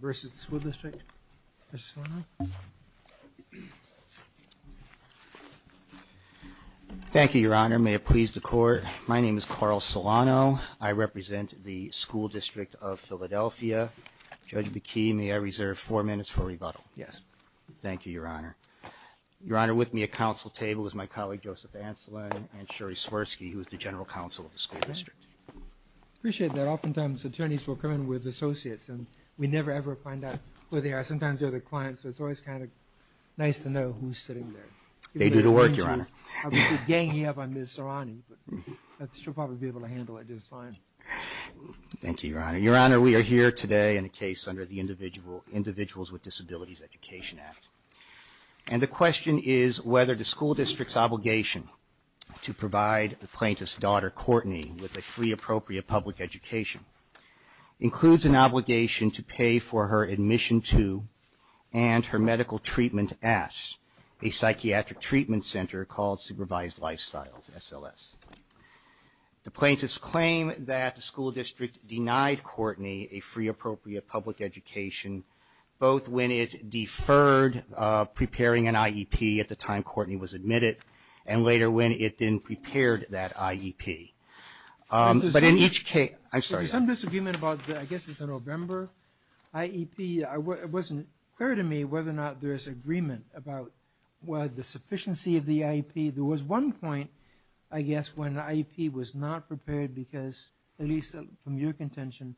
versus the school district. Thank you, Your Honor. May it please the court. My name is Carl Solano. I represent the School District of Philadelphia. Judge McKee, may I reserve four minutes for rebuttal? Yes. Thank you, Your Honor. Your Honor, with me at council table is my colleague Joseph Ancelet and Sherry Swirsky, who is the general counsel of the school district. Appreciate that. Sometimes attorneys will come in with associates and we never ever find out where they are. Sometimes they're the clients, so it's always kind of nice to know who's sitting there. They do the work, Your Honor. I'll be ganging up on Ms. Serrani, but she'll probably be able to handle it just fine. Thank you, Your Honor. Your Honor, we are here today in a case under the Individuals with Disabilities Education Act, and the question is whether the school district's obligation to provide the plaintiff's daughter Courtney with a free appropriate public education includes an obligation to pay for her admission to and her medical treatment at a psychiatric treatment center called Supervised Lifestyles, SLS. The plaintiff's claim that the school district denied Courtney a free appropriate public education, both when it deferred preparing an IEP at the time Courtney was admitted, and later when it had been prepared that IEP. But in each case, I'm sorry. There's some disagreement about, I guess it's a November IEP. It wasn't clear to me whether or not there is agreement about the sufficiency of the IEP. There was one point, I guess, when an IEP was not prepared because, at least from your contention,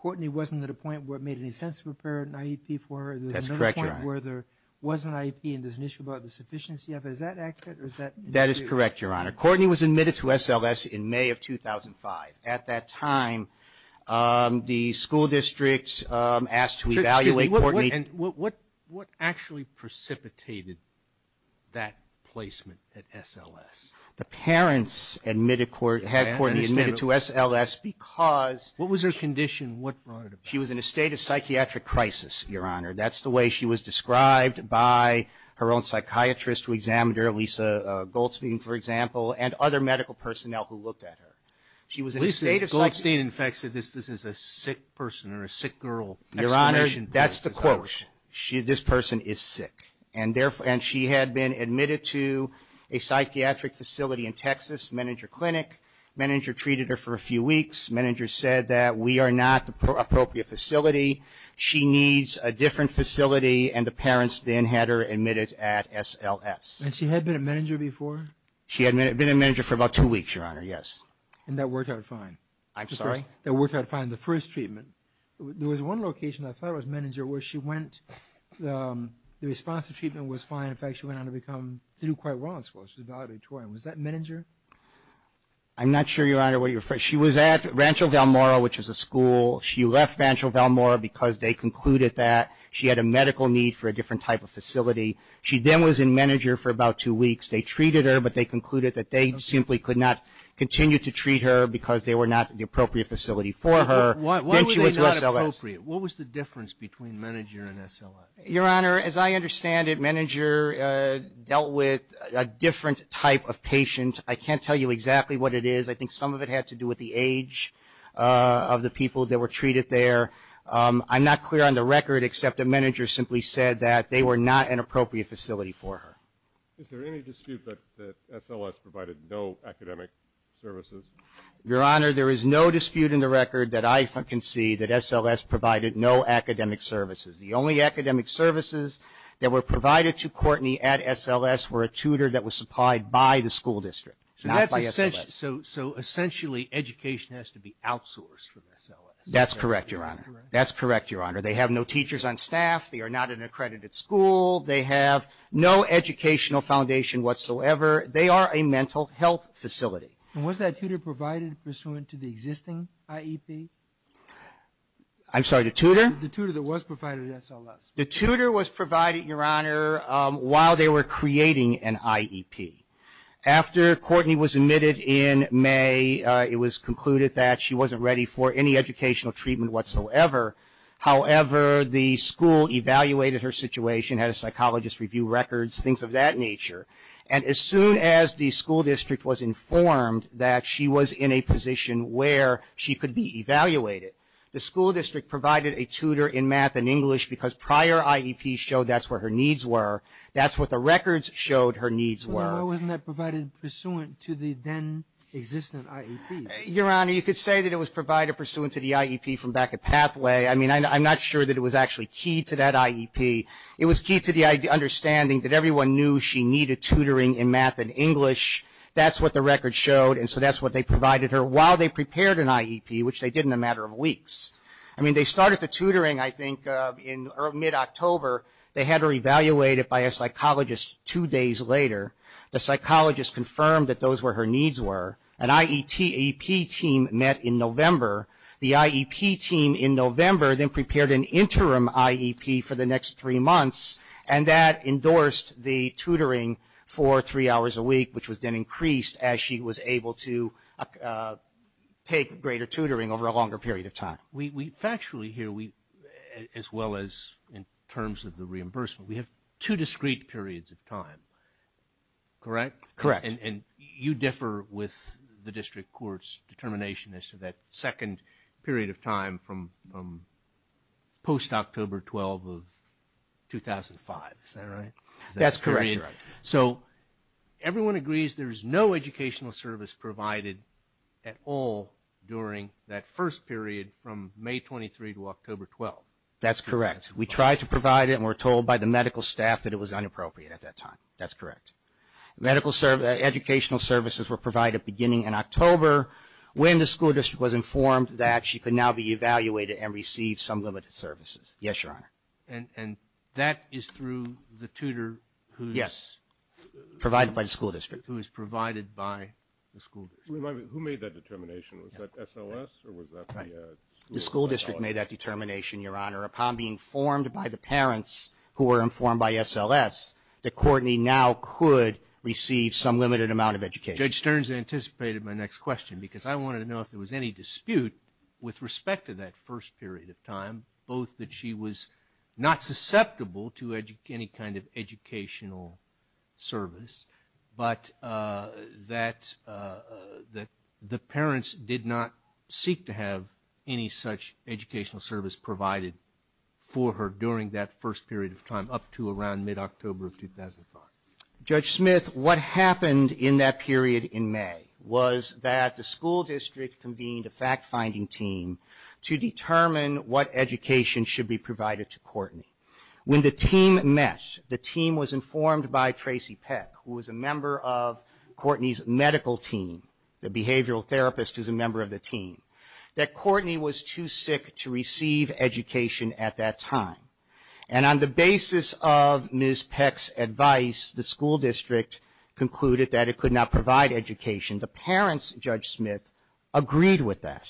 Courtney wasn't at a point where it made any sense to prepare an IEP for her. That's correct, Your Honor. There was another point where there was an IEP and there's an issue about the IEP. That is correct, Your Honor. Courtney was admitted to SLS in May of 2005. At that time, the school district asked to evaluate Courtney. Excuse me. What actually precipitated that placement at SLS? The parents admitted, had Courtney admitted to SLS because... What was her condition? What brought it about? She was in a state of psychiatric crisis, Your Honor. That's the way she was described by her own psychiatrist who examined her, Lisa Goldstein, for example, and other medical personnel who looked at her. She was in a state of... Lisa Goldstein, in fact, said this is a sick person or a sick girl. Your Honor, that's the quote. This person is sick. And therefore, and she had been admitted to a psychiatric facility in Texas, Meninger Clinic. Meninger treated her for a few weeks. Meninger said that we are not the appropriate facility. She needs a different facility and the parents then had her admitted at SLS. And she had been at Meninger before? She had been at Meninger for about two weeks, Your Honor, yes. And that worked out fine? I'm sorry? That worked out fine, the first treatment? There was one location I thought was Meninger where she went, the response to treatment was fine. In fact, she went on to become, to do quite well in school. She was valedictorian. Was that Meninger? I'm not sure, Your Honor, what you're referring... She was at Rancho Valmora, which is a school. She left Rancho Valmora because they concluded that she had a medical need for a different type of facility. She then was in Meninger for about two weeks. They treated her, but they concluded that they simply could not continue to treat her because they were not the appropriate facility for her. Why were they not appropriate? What was the difference between Meninger and SLS? Your Honor, as I understand it, Meninger dealt with a different type of patient. I can't tell you exactly what it is. I think some of it had to do with the age of the people that were treated there. I'm not clear on the record except that Meninger simply said that they were not an appropriate facility for her. Is there any dispute that SLS provided no academic services? Your Honor, there is no dispute in the record that I can see that SLS provided no academic services. The only academic services that were provided to Courtney at SLS were a tutor that was supplied by the school district, not by SLS. So essentially, education has to be outsourced from SLS? That's correct, Your Honor. That's correct, Your Honor. They have no teachers on staff. They are not an accredited school. They have no educational foundation whatsoever. They are a mental health facility. And was that tutor provided pursuant to the existing IEP? I'm sorry, the tutor? The tutor that was provided at SLS. The tutor was provided, Your Honor, while they were creating an IEP. After Courtney was admitted in May, it was concluded that she wasn't ready for any educational treatment whatsoever. However, the school evaluated her situation, had a psychologist review records, things of that nature. And as soon as the school district was informed that she was in a position where she could be evaluated, the school district provided a tutor in math and English because prior IEPs showed that's what her needs were. That's what the records showed her needs were. Why wasn't that provided pursuant to the then-existent IEP? Your Honor, you could say that it was provided pursuant to the IEP from back at Pathway. I mean, I'm not sure that it was actually key to that IEP. It was key to the understanding that everyone knew she needed tutoring in math and English. That's what the records showed, and so that's what they provided her while they prepared an IEP, which they did in a matter of weeks. I mean, they started the tutoring, I think, in mid-October. They had her evaluated by a psychologist two days later. The psychologist confirmed that those were her needs were. An IEP team met in November. The IEP team in November then prepared an interim IEP for the next three months, and that endorsed the tutoring for three hours a week, which was then increased as she was able to take greater tutoring over a longer period of time. We factually hear, as well as in terms of the reimbursement, we have two discrete periods of time. Correct? Correct. And you differ with the district court's determination as to that second period of time from post-October 12 of 2005. Is that right? That's correct. So, everyone agrees there's no educational service provided at all during that first period from May 23 to October 12. That's correct. We tried to provide it, and we're told by the medical staff that it was inappropriate at that time. That's correct. Educational services were provided beginning in October when the school district was informed that she could now be evaluated and receive some limited services. Yes, Your Honor. And that is through the tutor who's... Yes, provided by the school district. ...who is provided by the school district. Who made that determination? Was that SLS, or was that the school? The school district made that determination, Your Honor. Upon being informed by the parents who were informed by SLS, that Courtney now could receive some limited amount of education. Judge Stearns anticipated my next question because I wanted to know if there was any dispute with respect to that first period of time, both that she was not susceptible to any kind of educational service, but that the parents did not seek to have any such educational service provided for her during that first period of time up to around mid-October of 2005. Judge Smith, what happened in that period in May was that the school district convened a fact-finding team to determine what education should be provided to Courtney. When the team met, the team was informed by Tracy Peck, who was a member of Courtney's medical team, the behavioral therapist who's a member of the team, that Courtney was too sick to receive education at that time. And on the basis of Ms. Peck's advice, the school district concluded that it could not provide education. The parents, Judge Smith, agreed with that.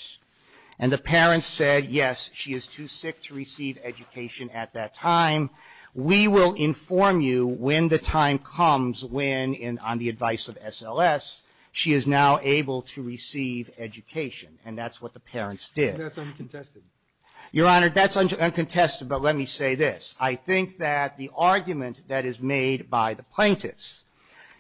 And the parents said, yes, she is too sick to receive education at that time. We will inform you when the time comes when, on the advice of SLS, she is now able to receive education. And that's what the parents did. That's uncontested. Your Honor, that's uncontested, but let me say this. I think that the argument that is made by the plaintiffs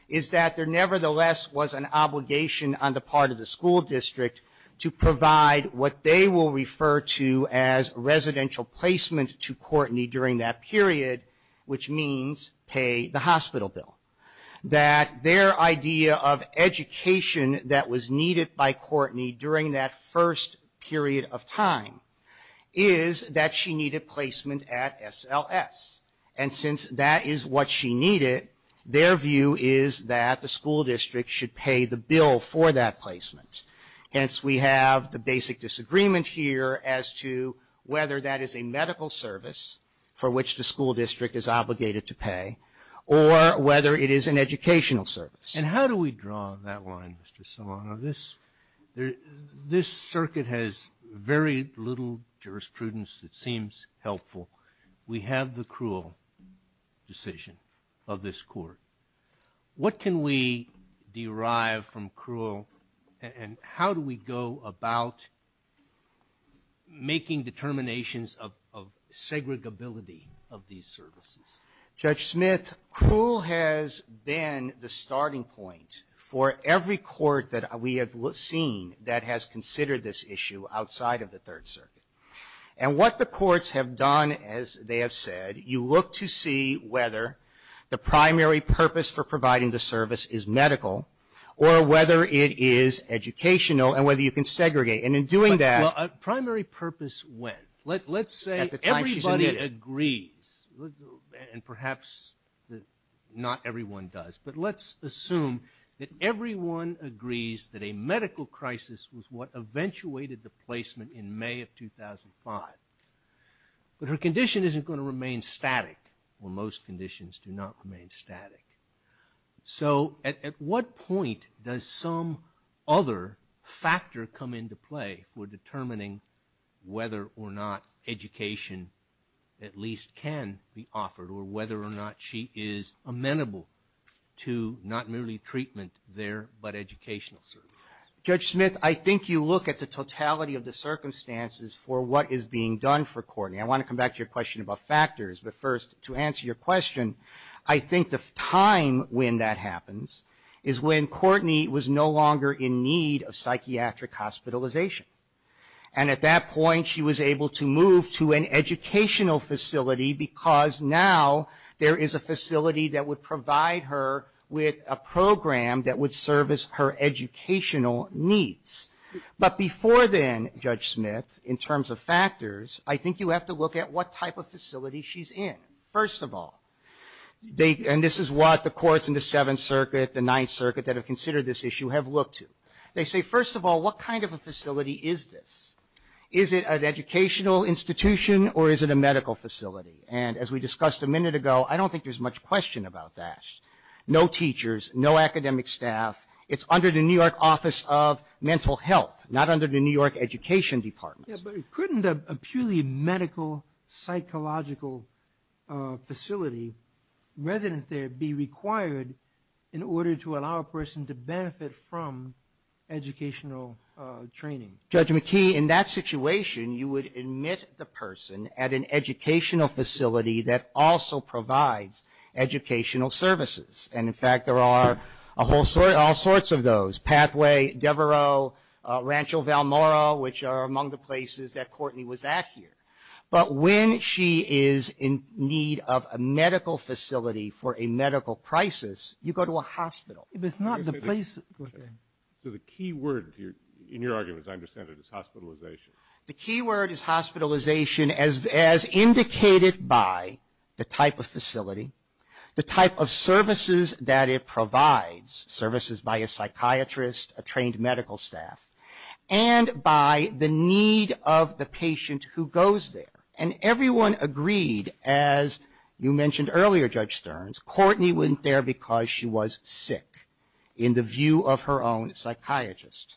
is that there nevertheless was an obligation on the part of the school district to provide what they will refer to as residential placement to Courtney during that period, which means pay the hospital bill. That their idea of education that was needed by Courtney during that first period of time is that she needed placement at SLS. And since that is what she needed, their view is that the school district should pay the bill for that placement. Hence, we have the basic disagreement here as to whether that is a medical service for which the school district is obligated to pay or whether it is an educational service. And how do we draw that line, Mr. Solano? This circuit has very little jurisprudence that seems helpful. We have the cruel decision of this Court. What can we derive from cruel and how do we go about making determinations of segregability of these services? Judge Smith, cruel has been the starting point for every court that we have seen that has considered this issue outside of the Third Circuit. And what the courts have done, as they have said, you look to see whether the primary purpose for providing the service is medical or whether it is educational and whether you can segregate. And in doing that --" Well, primary purpose when? Let's say everybody agrees. And perhaps not everyone does. But let's assume that everyone agrees that a medical crisis was what eventuated the placement in May of 2005. But her condition isn't going to remain static, or most conditions do not remain static. So at what point does some other factor come into play for determining whether or not education at least can be offered or whether or not she is amenable to not merely treatment there, but educational service? Judge Smith, I think you look at the totality of the circumstances for what is being done for Courtney. I want to come back to your question about factors. But first, to answer your question, I think the time when that happens is when Courtney was no longer in need of psychiatric hospitalization. And at that point she was able to move to an educational facility because now there is a facility that would provide her with a program that would service her educational needs. But before then, Judge Smith, in terms of factors, I think you have to look at what type of facility she's in. First of all, and this is what the courts in the Seventh Circuit, the Ninth Circuit, that have considered this issue, have looked to. They say, first of all, what kind of a facility is this? Is it an educational institution or is it a medical facility? And as we discussed a minute ago, I don't think there's much question about that. No teachers, no academic staff. It's under the New York Office of Mental Health, not under the New York Education Department. But couldn't a purely medical, psychological facility, residents there be required in order to allow a person to benefit from educational training? Judge McKee, in that situation, you would admit the person at an educational facility that also provides educational services. And in fact, there are all sorts of those. Pathway, Devereux, Rancho Valmora, which are among the places that Courtney was at here. But when she is in need of a medical facility for a medical crisis, you go to a hospital. But it's not the place... So the key word here, in your argument, as I understand it, is hospitalization. The key word is hospitalization as indicated by the type of facility, the type of services that it provides, services by a psychiatrist, a trained medical staff, and by the need of the patient who goes there. And everyone agreed, as you mentioned earlier, Judge Stearns, Courtney went there because she was sick, in the view of her own psychiatrist.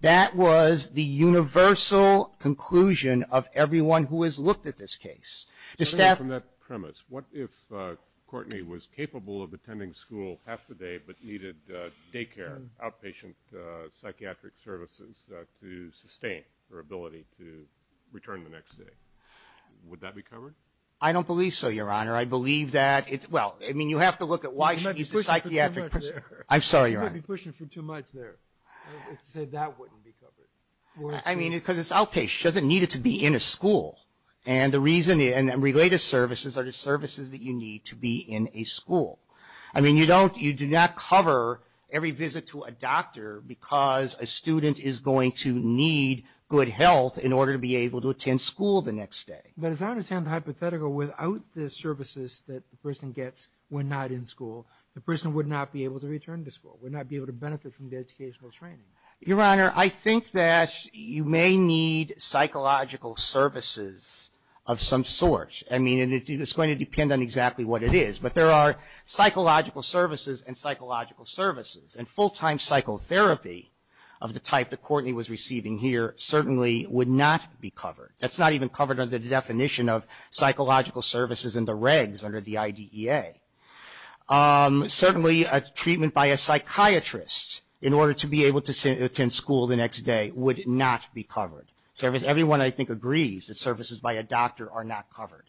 That was the universal conclusion of everyone who has looked at this case. From that premise, what if Courtney was capable of attending school half the day, but needed daycare, outpatient psychiatric services to sustain her ability to return the next day? Would that be covered? I don't believe so, Your Honor. I believe that... Well, I mean, you have to look at why she's a psychiatric... You might be pushing for too much there. I'm sorry, Your Honor. You might be pushing for too much there to say that wouldn't be covered. I mean, because it's outpatient. She doesn't need it to be in a school. And the reason... And related services are the services that you need to be in a school. I mean, you don't... You do not cover every visit to a doctor because a student is going to need good health in order to be able to attend school the next day. But as I understand the hypothetical, without the services that the person gets when not in school, the person would not be able to return to school, would not be able to benefit from the educational training. Your Honor, I think that you may need psychological services of some sort. I mean, it's going to depend on exactly what it is. But there are psychological services and psychological services. And full-time psychotherapy of the type that Courtney was receiving here certainly would not be covered. That's not even covered under the definition of psychological services in the regs under the IDEA. Certainly a treatment by a psychiatrist in order to be able to attend school the next day would not be covered. Everyone, I think, agrees that services by a doctor are not covered.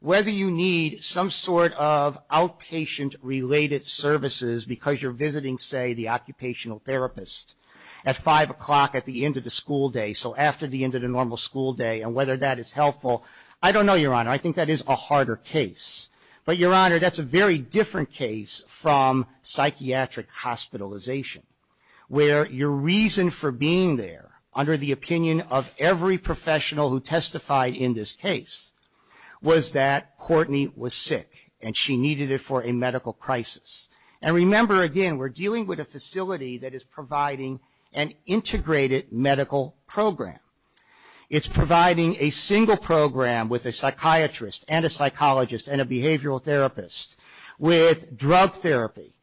Whether you need some sort of outpatient-related services because you're visiting, say, the occupational therapist at 5 o'clock at the end of the school day, so after the end of the normal school day, and whether that is helpful, I don't know, Your Honor. I think that is a harder case. But, Your Honor, that's a very different case from psychiatric hospitalization, where your reason for being there under the opinion of every professional who testified in this case was that Courtney was sick and she needed it for a medical crisis. And remember, again, we're dealing with a facility that is providing an integrated medical program. It's providing a single program with a psychiatrist and a psychologist and a behavioral therapist with drug therapy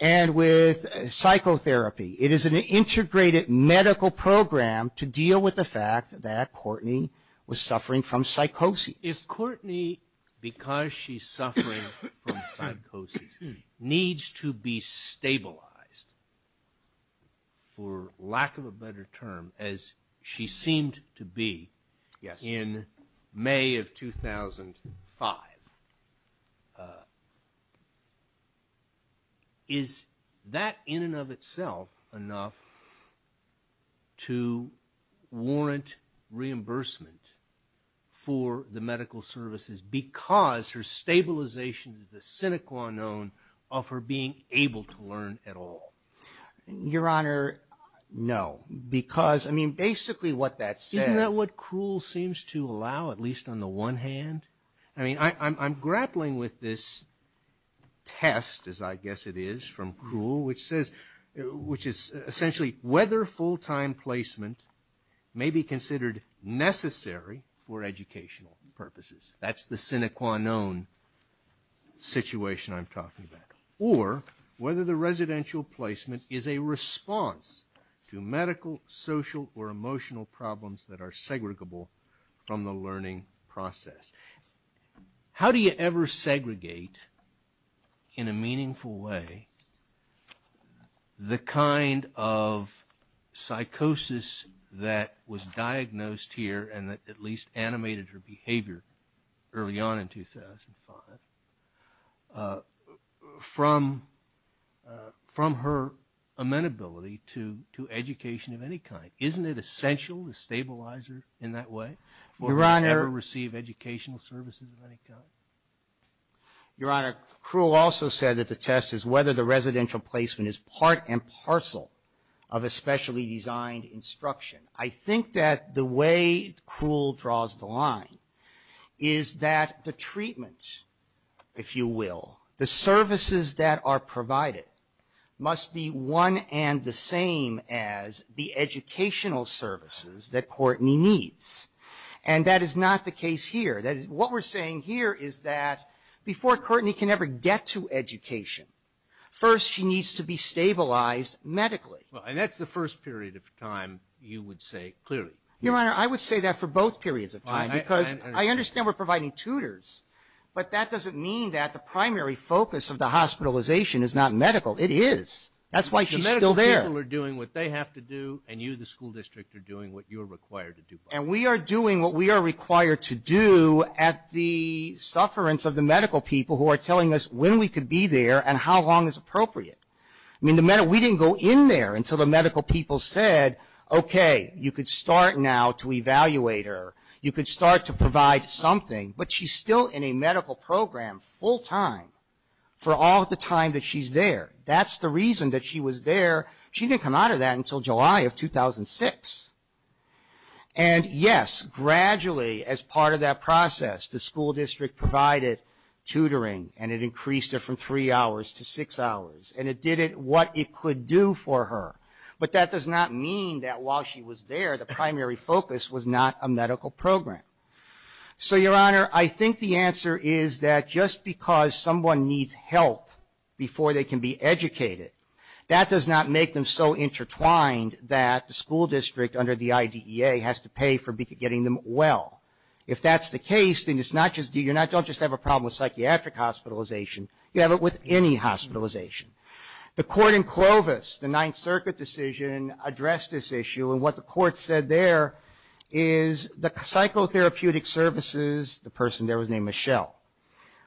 and with psychotherapy. It is an integrated medical program to deal with the fact that Courtney was suffering from psychosis. If Courtney, because she's suffering from psychosis, needs to be stabilized, for lack of a better term, as she seemed to be in May of 2005, is that in and of itself enough to warrant reimbursement for the medical services because her stabilization is the sine qua non of her being able to learn at all? Your Honor, no. Because, I mean, basically what that says... Isn't that what Krull seems to allow, at least on the one hand? I mean, I'm grappling with this test, as I guess it is, from Krull, which says, which is essentially whether full-time placement may be considered necessary for educational purposes. That's the sine qua non situation I'm talking about. Or whether the residential placement is a response to medical, social, or emotional problems that are segregable from the learning process. How do you ever segregate, in a meaningful way, the kind of psychosis that was diagnosed here and that at least animated her behavior early on in 2005, from her amenability to education of any kind? Isn't it essential to stabilize her in that way? Your Honor... For her to ever receive educational services of any kind? Your Honor, Krull also said that the test is whether the residential placement is part and parcel of a specially designed instruction. I think that the way Krull draws the line is that the treatment, if you will, the services that are provided must be one and the same as the educational services that Courtney needs. And that is not the case here. What we're saying here is that before Courtney can ever get to education, first she needs to be stabilized medically. And that's the first period of time you would say, clearly. Your Honor, I would say that for both periods of time. Because I understand we're providing tutors, but that doesn't mean that the primary focus of the hospitalization is not medical. It is. That's why she's still there. The medical people are doing what they have to do, and you, the school district, are doing what you're required to do. And we are doing what we are required to do at the sufferance of the medical people who are telling us when we could be there and how long is appropriate. I mean, we didn't go in there until the medical people said, okay, you could start now to evaluate her. You could start to provide something. But she's still in a medical program full time for all the time that she's there. That's the reason that she was there. She didn't come out of that until July of 2006. And yes, gradually, as part of that process, the school district provided tutoring, and it increased it from three hours to six hours. And it did what it could do for her. But that does not mean that while she was there, the primary focus was not a medical program. So, Your Honor, I think the answer is that just because someone needs health before they can be educated, that does not make them so intertwined that the school district under the IDEA has to pay for getting them well. If that's the case, then you don't just have a problem with psychiatric hospitalization. You have it with any hospitalization. The court in Clovis, the Ninth Circuit decision, addressed this issue. And what the court said there is the psychotherapeutic services, the person there was named Michelle,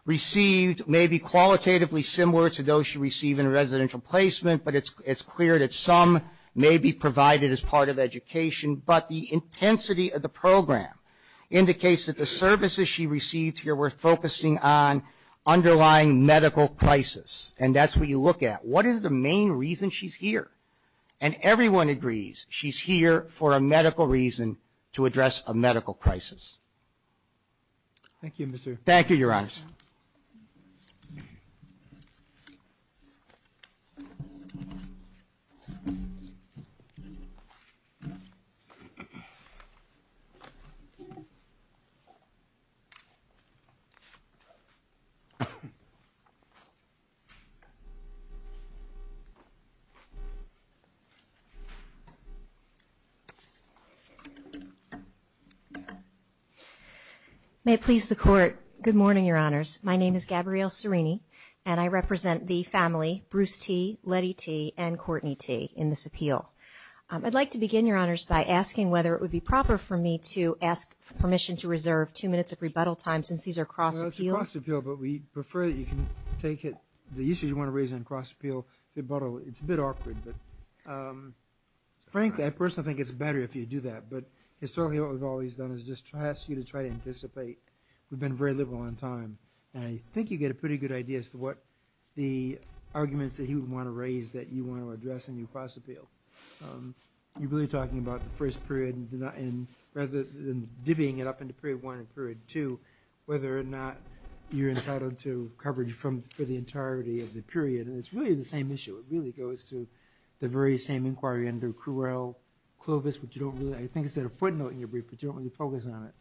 received may be qualitatively similar to those she received in a residential placement, but it's clear that some may be provided as part of education. But the intensity of the program indicates that the services she received here were focusing on underlying medical crisis. And that's what you look at. What is the main reason she's here? And everyone agrees she's here for a medical reason to address a medical crisis. Thank you, Mr. Thank you, Your Honor. May it please the court. Good morning, Your Honors. My name is Gabrielle Cerini, and I represent the family, Bruce T., Letty T., and Courtney T. in this appeal. I'd like to begin, Your Honors, by asking whether it would be proper for me to ask for permission to reserve two minutes of rebuttal time since these are cross-appeals. No, it's a cross-appeal, but we prefer that you can take it, the issues you want to raise on cross-appeal, rebuttal. It's a bit awkward, but frankly, I personally think it's better if you do that. But historically, what we've always done is just ask you to try to anticipate. We've been very liberal on time. And I think you get a pretty good idea as to what the arguments that he would want to raise that you want to address in your cross-appeal. You're really talking about the first period, and rather than divvying it up into period one and period two, whether or not you're entitled to coverage for the entirety of the period. And it's really the same issue. It really goes to the very same inquiry under Cruel-Clovis, which you don't really – I think you said a footnote in your brief, but you don't really focus on it.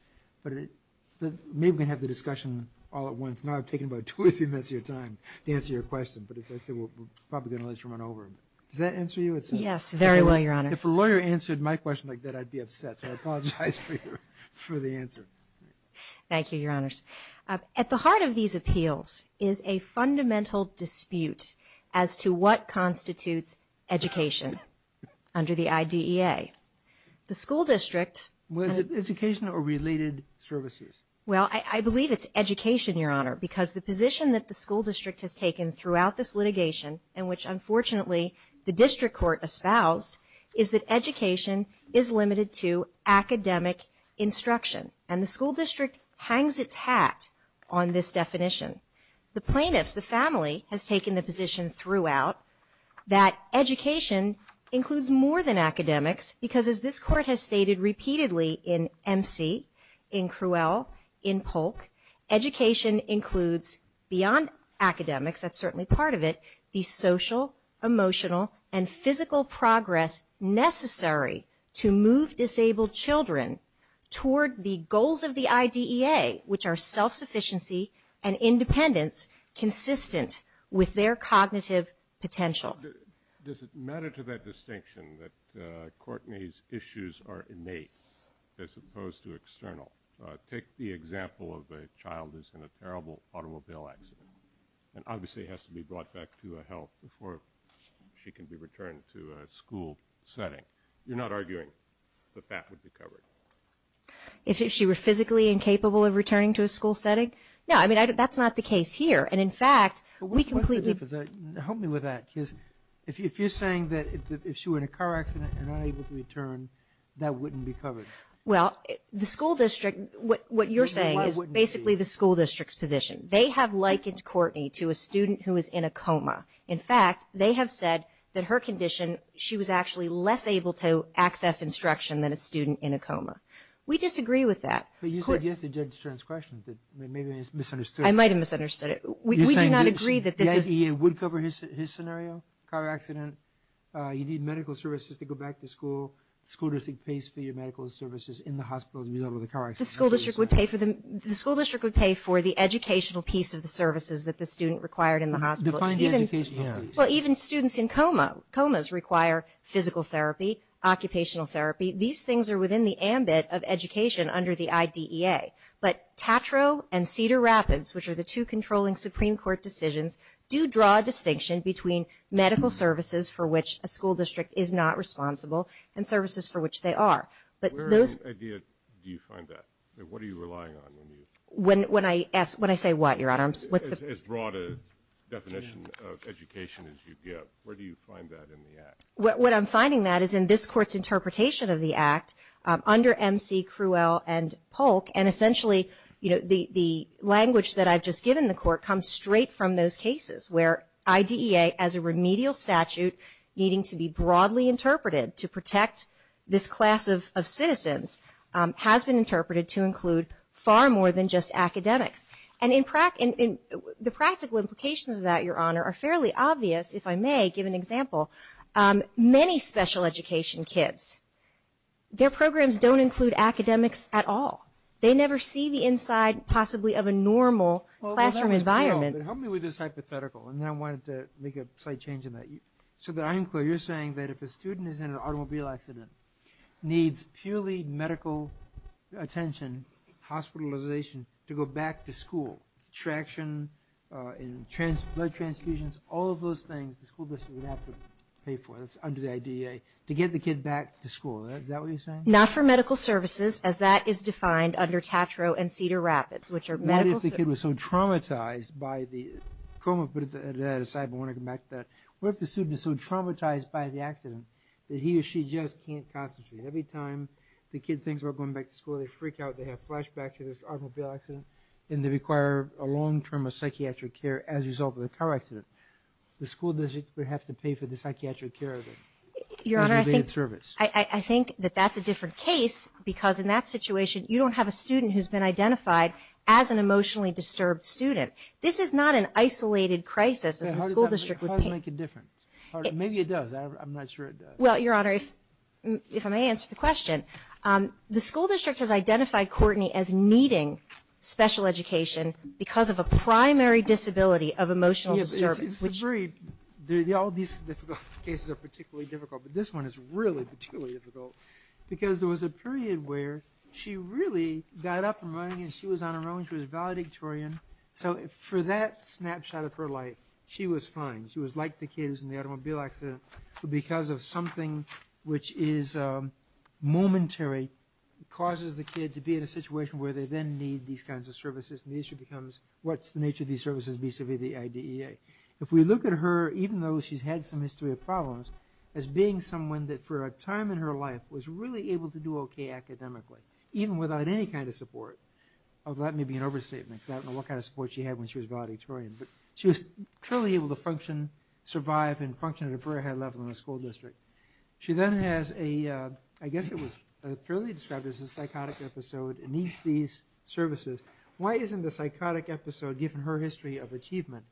But maybe we can have the discussion all at once. Now I've taken about two or three minutes of your time to answer your question, but as I said, we're probably going to let you run over. Does that answer you? Yes, very well, Your Honor. If a lawyer answered my question like that, I'd be upset. So I apologize for the answer. Thank you, Your Honors. At the heart of these appeals is a fundamental dispute as to what constitutes education under the IDEA. The school district – Was it education or related services? Well, I believe it's education, Your Honor, because the position that the school district has taken throughout this litigation and which, unfortunately, the district court espoused, is that education is limited to academic instruction. And the school district hangs its hat on this definition. The plaintiffs, the family, has taken the position throughout that education includes more than academics, because as this court has stated repeatedly in MC, in Cruel, in Polk, education includes, beyond academics, that's certainly part of it, the social, emotional, and physical progress necessary to move disabled children toward the goals of the IDEA, which are self-sufficiency and independence consistent with their cognitive potential. Does it matter to that distinction that Courtney's issues are innate as opposed to external? Take the example of a child who's in a terrible automobile accident and obviously has to be brought back to a help before she can be returned to a school setting. You're not arguing that that would be covered? If she were physically incapable of returning to a school setting? No, I mean, that's not the case here. And, in fact, we completely – What's the difference? Help me with that, because if you're saying that if she were in a car accident and not able to return, that wouldn't be covered. Well, the school district – What you're saying is basically the school district's position. They have likened Courtney to a student who is in a coma. In fact, they have said that her condition – she was actually less able to access instruction than a student in a coma. We disagree with that. But you said yes to Judge Stern's question, that maybe it's misunderstood. I might have misunderstood it. We do not agree that this is – You're saying the IDEA would cover his scenario, car accident. You need medical services to go back to school. The school district pays for your medical services in the hospital as a result of the car accident. The school district would pay for the educational piece of the services that the student required in the hospital. Define the educational piece. Well, even students in comas require physical therapy, occupational therapy. These things are within the ambit of education under the IDEA. But Tatro and Cedar Rapids, which are the two controlling Supreme Court decisions, do draw a distinction between medical services for which a school district is not responsible and services for which they are. Where in IDEA do you find that? What are you relying on? When I say what, Your Honor? As broad a definition of education as you give. Where do you find that in the Act? What I'm finding, Matt, is in this Court's interpretation of the Act under M.C. Crewell and Polk, and essentially the language that I've just given the Court comes straight from those cases where IDEA as a remedial statute needing to be broadly interpreted to protect this class of citizens has been interpreted to include far more than just academics. And the practical implications of that, Your Honor, are fairly obvious, if I may give an example. Many special education kids, their programs don't include academics at all. They never see the inside possibly of a normal classroom environment. Help me with this hypothetical, and then I wanted to make a slight change in that. So that I am clear, you're saying that if a student is in an automobile accident, needs purely medical attention, hospitalization, to go back to school, traction, blood transfusions, all of those things the school district would have to pay for, that's under the IDEA, to get the kid back to school. Is that what you're saying? Not for medical services, as that is defined under Tatro and Cedar Rapids, which are medical services. What if the student was so traumatized by the accident that he or she just can't concentrate? Every time the kid thinks about going back to school, they freak out, they have flashbacks to this automobile accident, and they require a long term of psychiatric care as a result of the car accident. The school district would have to pay for the psychiatric care of them. Your Honor, I think that that's a different case, because in that situation, you don't have a student who's been identified as an emotionally disturbed student. This is not an isolated crisis. How does that make a difference? Maybe it does. I'm not sure it does. Well, Your Honor, if I may answer the question, the school district has identified Courtney as needing special education because of a primary disability of emotional disturbance. All these difficult cases are particularly difficult, but this one is really particularly difficult, because there was a period where she really got up and running, and she was on her own, she was valedictorian. So for that snapshot of her life, she was fine. She was like the kids in the automobile accident, but because of something which is momentary, it causes the kid to be in a situation where they then need these kinds of services, and the issue becomes what's the nature of these services vis-a-vis the IDEA. If we look at her, even though she's had some history of problems, as being someone that for a time in her life was really able to do okay academically, even without any kind of support, although that may be an overstatement, because I don't know what kind of support she had when she was valedictorian, but she was truly able to function, survive, and function at a very high level in the school district. She then has a, I guess it was fairly described as a psychotic episode, and needs these services. Why isn't the psychotic episode, given her history of achievement,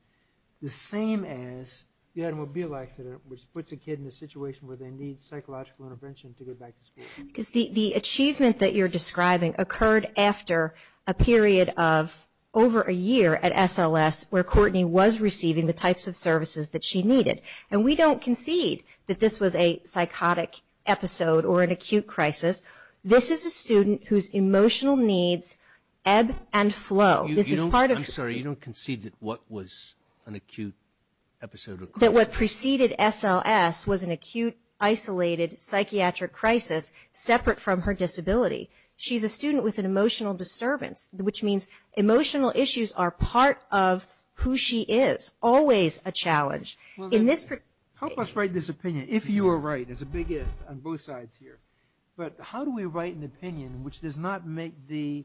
the same as the automobile accident, which puts a kid in a situation where they need psychological intervention to get back to school? Because the achievement that you're describing occurred after a period of over a year at SLS, where Courtney was receiving the types of services that she needed, and we don't concede that this was a psychotic episode or an acute crisis. This is a student whose emotional needs ebb and flow. I'm sorry, you don't concede that what was an acute episode or crisis? That what preceded SLS was an acute, isolated, psychiatric crisis, separate from her disability. She's a student with an emotional disturbance, which means emotional issues are part of who she is. Always a challenge. Help us write this opinion, if you are right. There's a big if on both sides here. But how do we write an opinion which does not make the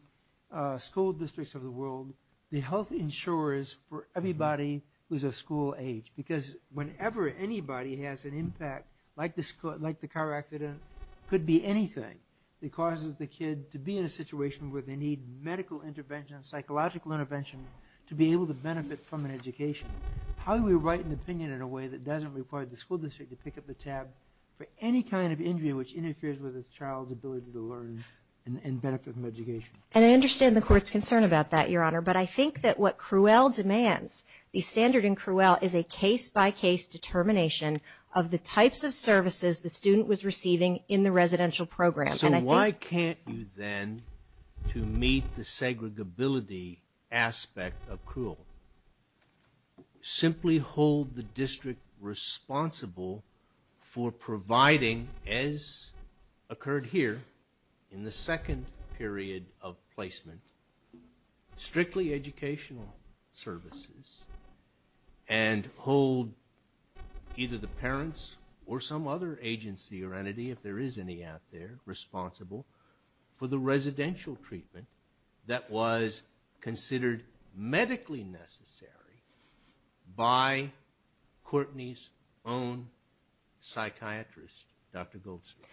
school districts of the world the health insurers for everybody who's of school age? Because whenever anybody has an impact, like the car accident, it could be anything that causes the kid to be in a situation where they need medical intervention, psychological intervention, to be able to benefit from an education. How do we write an opinion in a way that doesn't require the school district to pick up the tab for any kind of injury which interferes with this child's ability to learn and benefit from education? And I understand the court's concern about that, Your Honor, but I think that what CRUEL demands, the standard in CRUEL, is a case-by-case determination of the types of services the student was receiving in the residential program. So why can't you then, to meet the segregability aspect of CRUEL, simply hold the district responsible for providing, as occurred here in the second period of placement, strictly educational services and hold either the parents or some other agency or entity, if there is any out there, responsible for the residential treatment that was considered medically necessary by Courtney's own psychiatrist, Dr. Goldstein?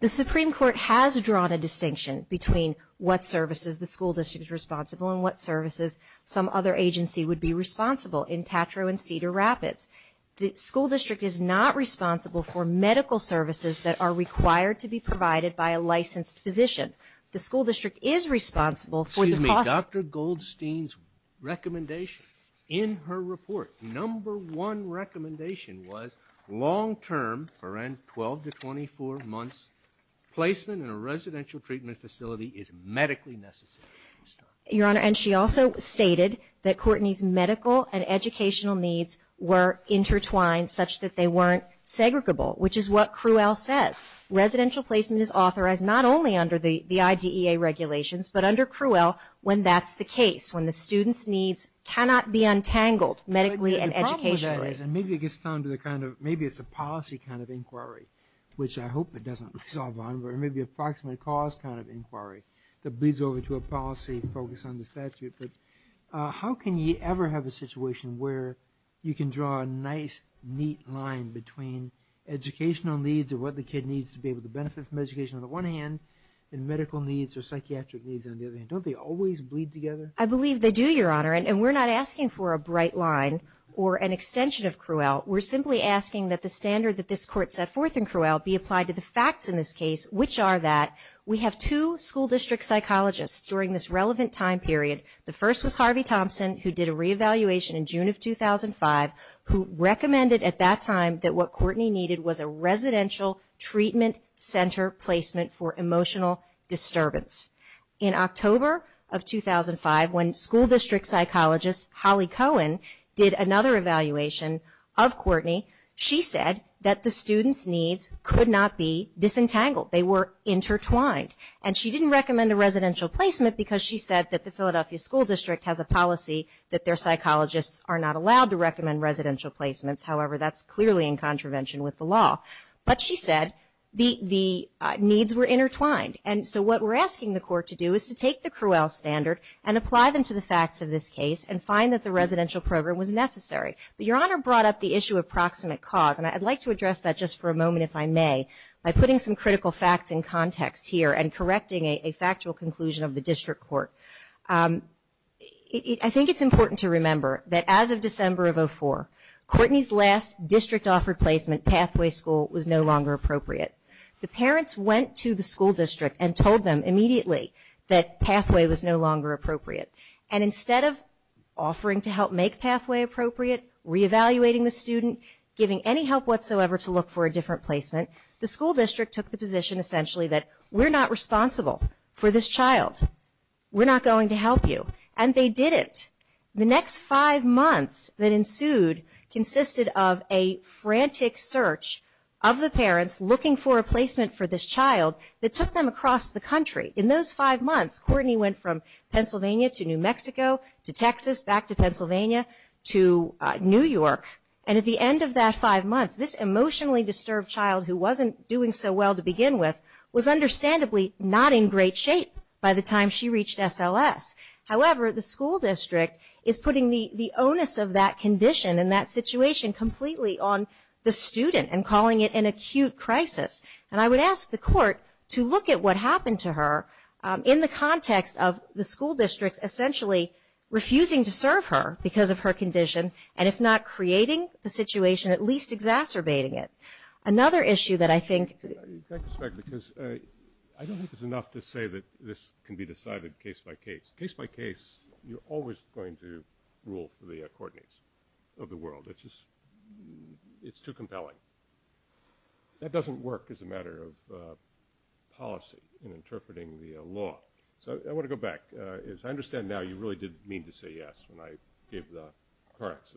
The Supreme Court has drawn a distinction between what services the school district is responsible and what services some other agency would be responsible in Tatro and Cedar Rapids. The school district is not responsible for medical services that are required to be provided by a licensed physician. The school district is responsible for the cost... Excuse me. Dr. Goldstein's recommendation in her report, number one recommendation, was long-term, for around 12 to 24 months, placement in a residential treatment facility is medically necessary. Your Honor, and she also stated that Courtney's medical and educational needs were intertwined such that they weren't segregable, which is what CRUEL says. Residential placement is authorized not only under the IDEA regulations, but under CRUEL when that's the case, when the student's needs cannot be untangled medically and educationally. The problem with that is, and maybe it gets down to the kind of, maybe it's a policy kind of inquiry, which I hope it doesn't resolve on, but it may be an approximate cause kind of inquiry that bleeds over to a policy focused on the statute. But how can you ever have a situation where you can draw a nice, neat line between educational needs or what the kid needs to be able to benefit from education on the one hand and medical needs or psychiatric needs on the other? Don't they always bleed together? I believe they do, Your Honor, and we're not asking for a bright line or an extension of CRUEL. We're simply asking that the standard that this Court set forth in CRUEL be applied to the facts in this case, which are that we have two school district psychologists during this relevant time period. The first was Harvey Thompson, who did a reevaluation in June of 2005, who recommended at that time that what Courtney needed was a residential treatment center placement for emotional disturbance. In October of 2005, when school district psychologist Holly Cohen did another evaluation of Courtney, she said that the students' needs could not be disentangled. They were intertwined. And she didn't recommend a residential placement because she said that the Philadelphia School District has a policy that their psychologists are not allowed to recommend residential placements. However, that's clearly in contravention with the law. But she said the needs were intertwined. And so what we're asking the Court to do is to take the CRUEL standard and apply them to the facts of this case and find that the residential program was necessary. But Your Honor brought up the issue of proximate cause, and I'd like to address that just for a moment if I may by putting some critical facts in context here and correcting a factual conclusion of the district court. I think it's important to remember that as of December of 2004, Courtney's last district-offered placement, Pathway School, was no longer appropriate. The parents went to the school district and told them immediately that Pathway was no longer appropriate. And instead of offering to help make Pathway appropriate, reevaluating the student, giving any help whatsoever to look for a different placement, the school district took the position essentially that we're not responsible for this child. We're not going to help you. And they didn't. The next five months that ensued consisted of a frantic search of the parents looking for a placement for this child that took them across the country. In those five months, Courtney went from Pennsylvania to New Mexico to Texas, back to Pennsylvania to New York. And at the end of that five months, this emotionally disturbed child who wasn't doing so well to begin with was understandably not in great shape by the time she reached SLS. However, the school district is putting the onus of that condition and that situation completely on the student and calling it an acute crisis. And I would ask the court to look at what happened to her in the context of the school district essentially refusing to serve her because of her condition, and if not creating the situation, at least exacerbating it. Another issue that I think ---- I don't think it's enough to say that this can be decided case by case. Case by case, you're always going to rule for the Courtneys of the world. It's just too compelling. That doesn't work as a matter of policy in interpreting the law. So I want to go back. As I understand now, you really did mean to say yes when I gave the correct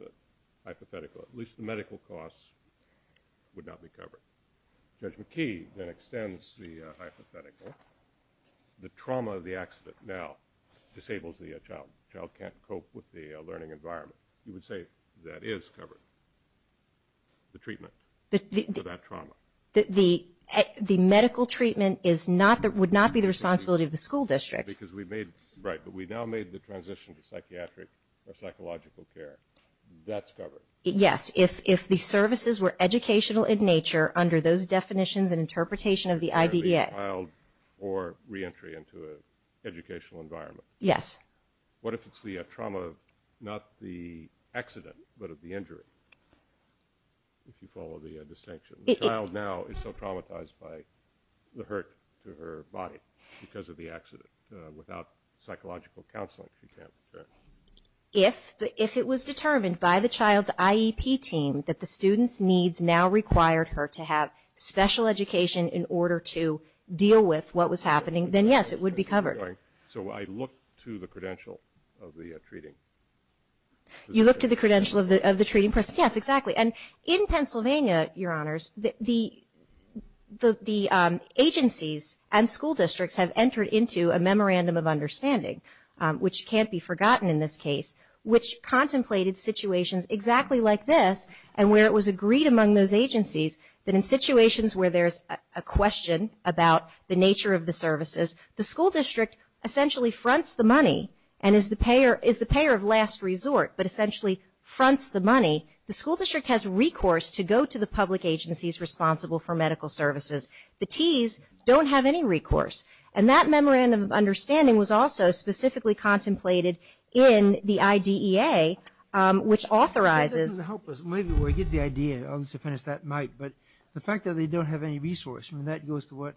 hypothetical. At least the medical costs would not be covered. Judge McKee then extends the hypothetical. The trauma of the accident now disables the child. The child can't cope with the learning environment. You would say that is covered, the treatment for that trauma. The medical treatment would not be the responsibility of the school district. Right, but we now made the transition to psychiatric or psychological care. That's covered. Yes, if the services were educational in nature, under those definitions and interpretation of the IDEA. Child or reentry into an educational environment. Yes. What if it's the trauma, not the accident, but of the injury, if you follow the distinction? The child now is so traumatized by the hurt to her body because of the accident. Without psychological counseling, she can't return. If it was determined by the child's IEP team that the student's needs now required her to have special education in order to deal with what was happening, then yes, it would be covered. So I look to the credential of the treating. You look to the credential of the treating person. Yes, exactly. And in Pennsylvania, Your Honors, the agencies and school districts have entered into a memorandum of understanding, which can't be forgotten in this case, which contemplated situations exactly like this and where it was agreed among those agencies that in situations where there's a question about the nature of the services, the school district essentially fronts the money and is the payer of last resort, but essentially fronts the money. The school district has recourse to go to the public agencies responsible for medical services. The T's don't have any recourse. And that memorandum of understanding was also specifically contemplated in the IDEA, which authorizes. It doesn't help us. Maybe we get the idea. I'll just finish that mic. But the fact that they don't have any resource, and that goes to what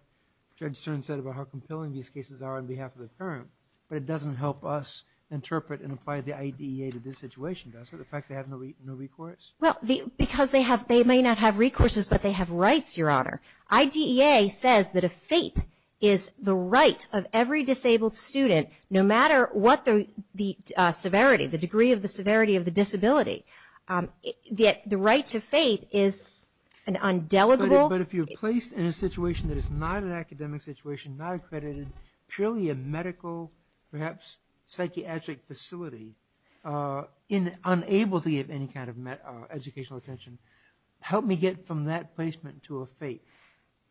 Judge Stern said about how compelling these cases are on behalf of the parent, but it doesn't help us interpret and apply the IDEA to this situation, does it, the fact that they have no recourse? Well, because they may not have recourses, but they have rights, Your Honor. IDEA says that a FAPE is the right of every disabled student, no matter what the severity, the degree of the severity of the disability. The right to FAPE is an undeligible. But if you're placed in a situation that is not an academic situation, not accredited, purely a medical, perhaps psychiatric facility, unable to get any kind of educational attention, help me get from that placement to a FAPE.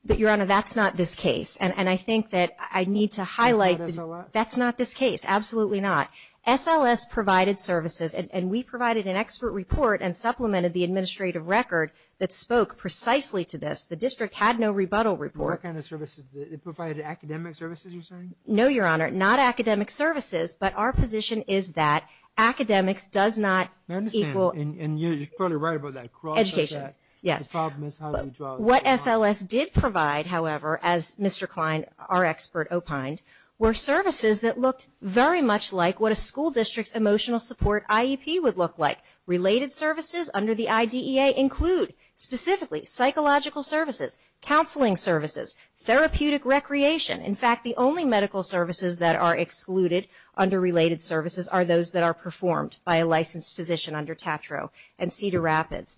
But, Your Honor, that's not this case. And I think that I need to highlight. That's not SLS? That's not this case. Absolutely not. SLS provided services, and we provided an expert report and supplemented the administrative record that spoke precisely to this. The district had no rebuttal report. What kind of services? Provided academic services, you're saying? No, Your Honor, not academic services. But our position is that academics does not equal. And you're totally right about that. Education, yes. What SLS did provide, however, as Mr. Klein, our expert, opined, were services that looked very much like what a school district's emotional support IEP would look like. Related services under the IDEA include, specifically, psychological services, counseling services, therapeutic recreation. In fact, the only medical services that are excluded under related services are those that are performed by a licensed physician under Tatro and Cedar Rapids.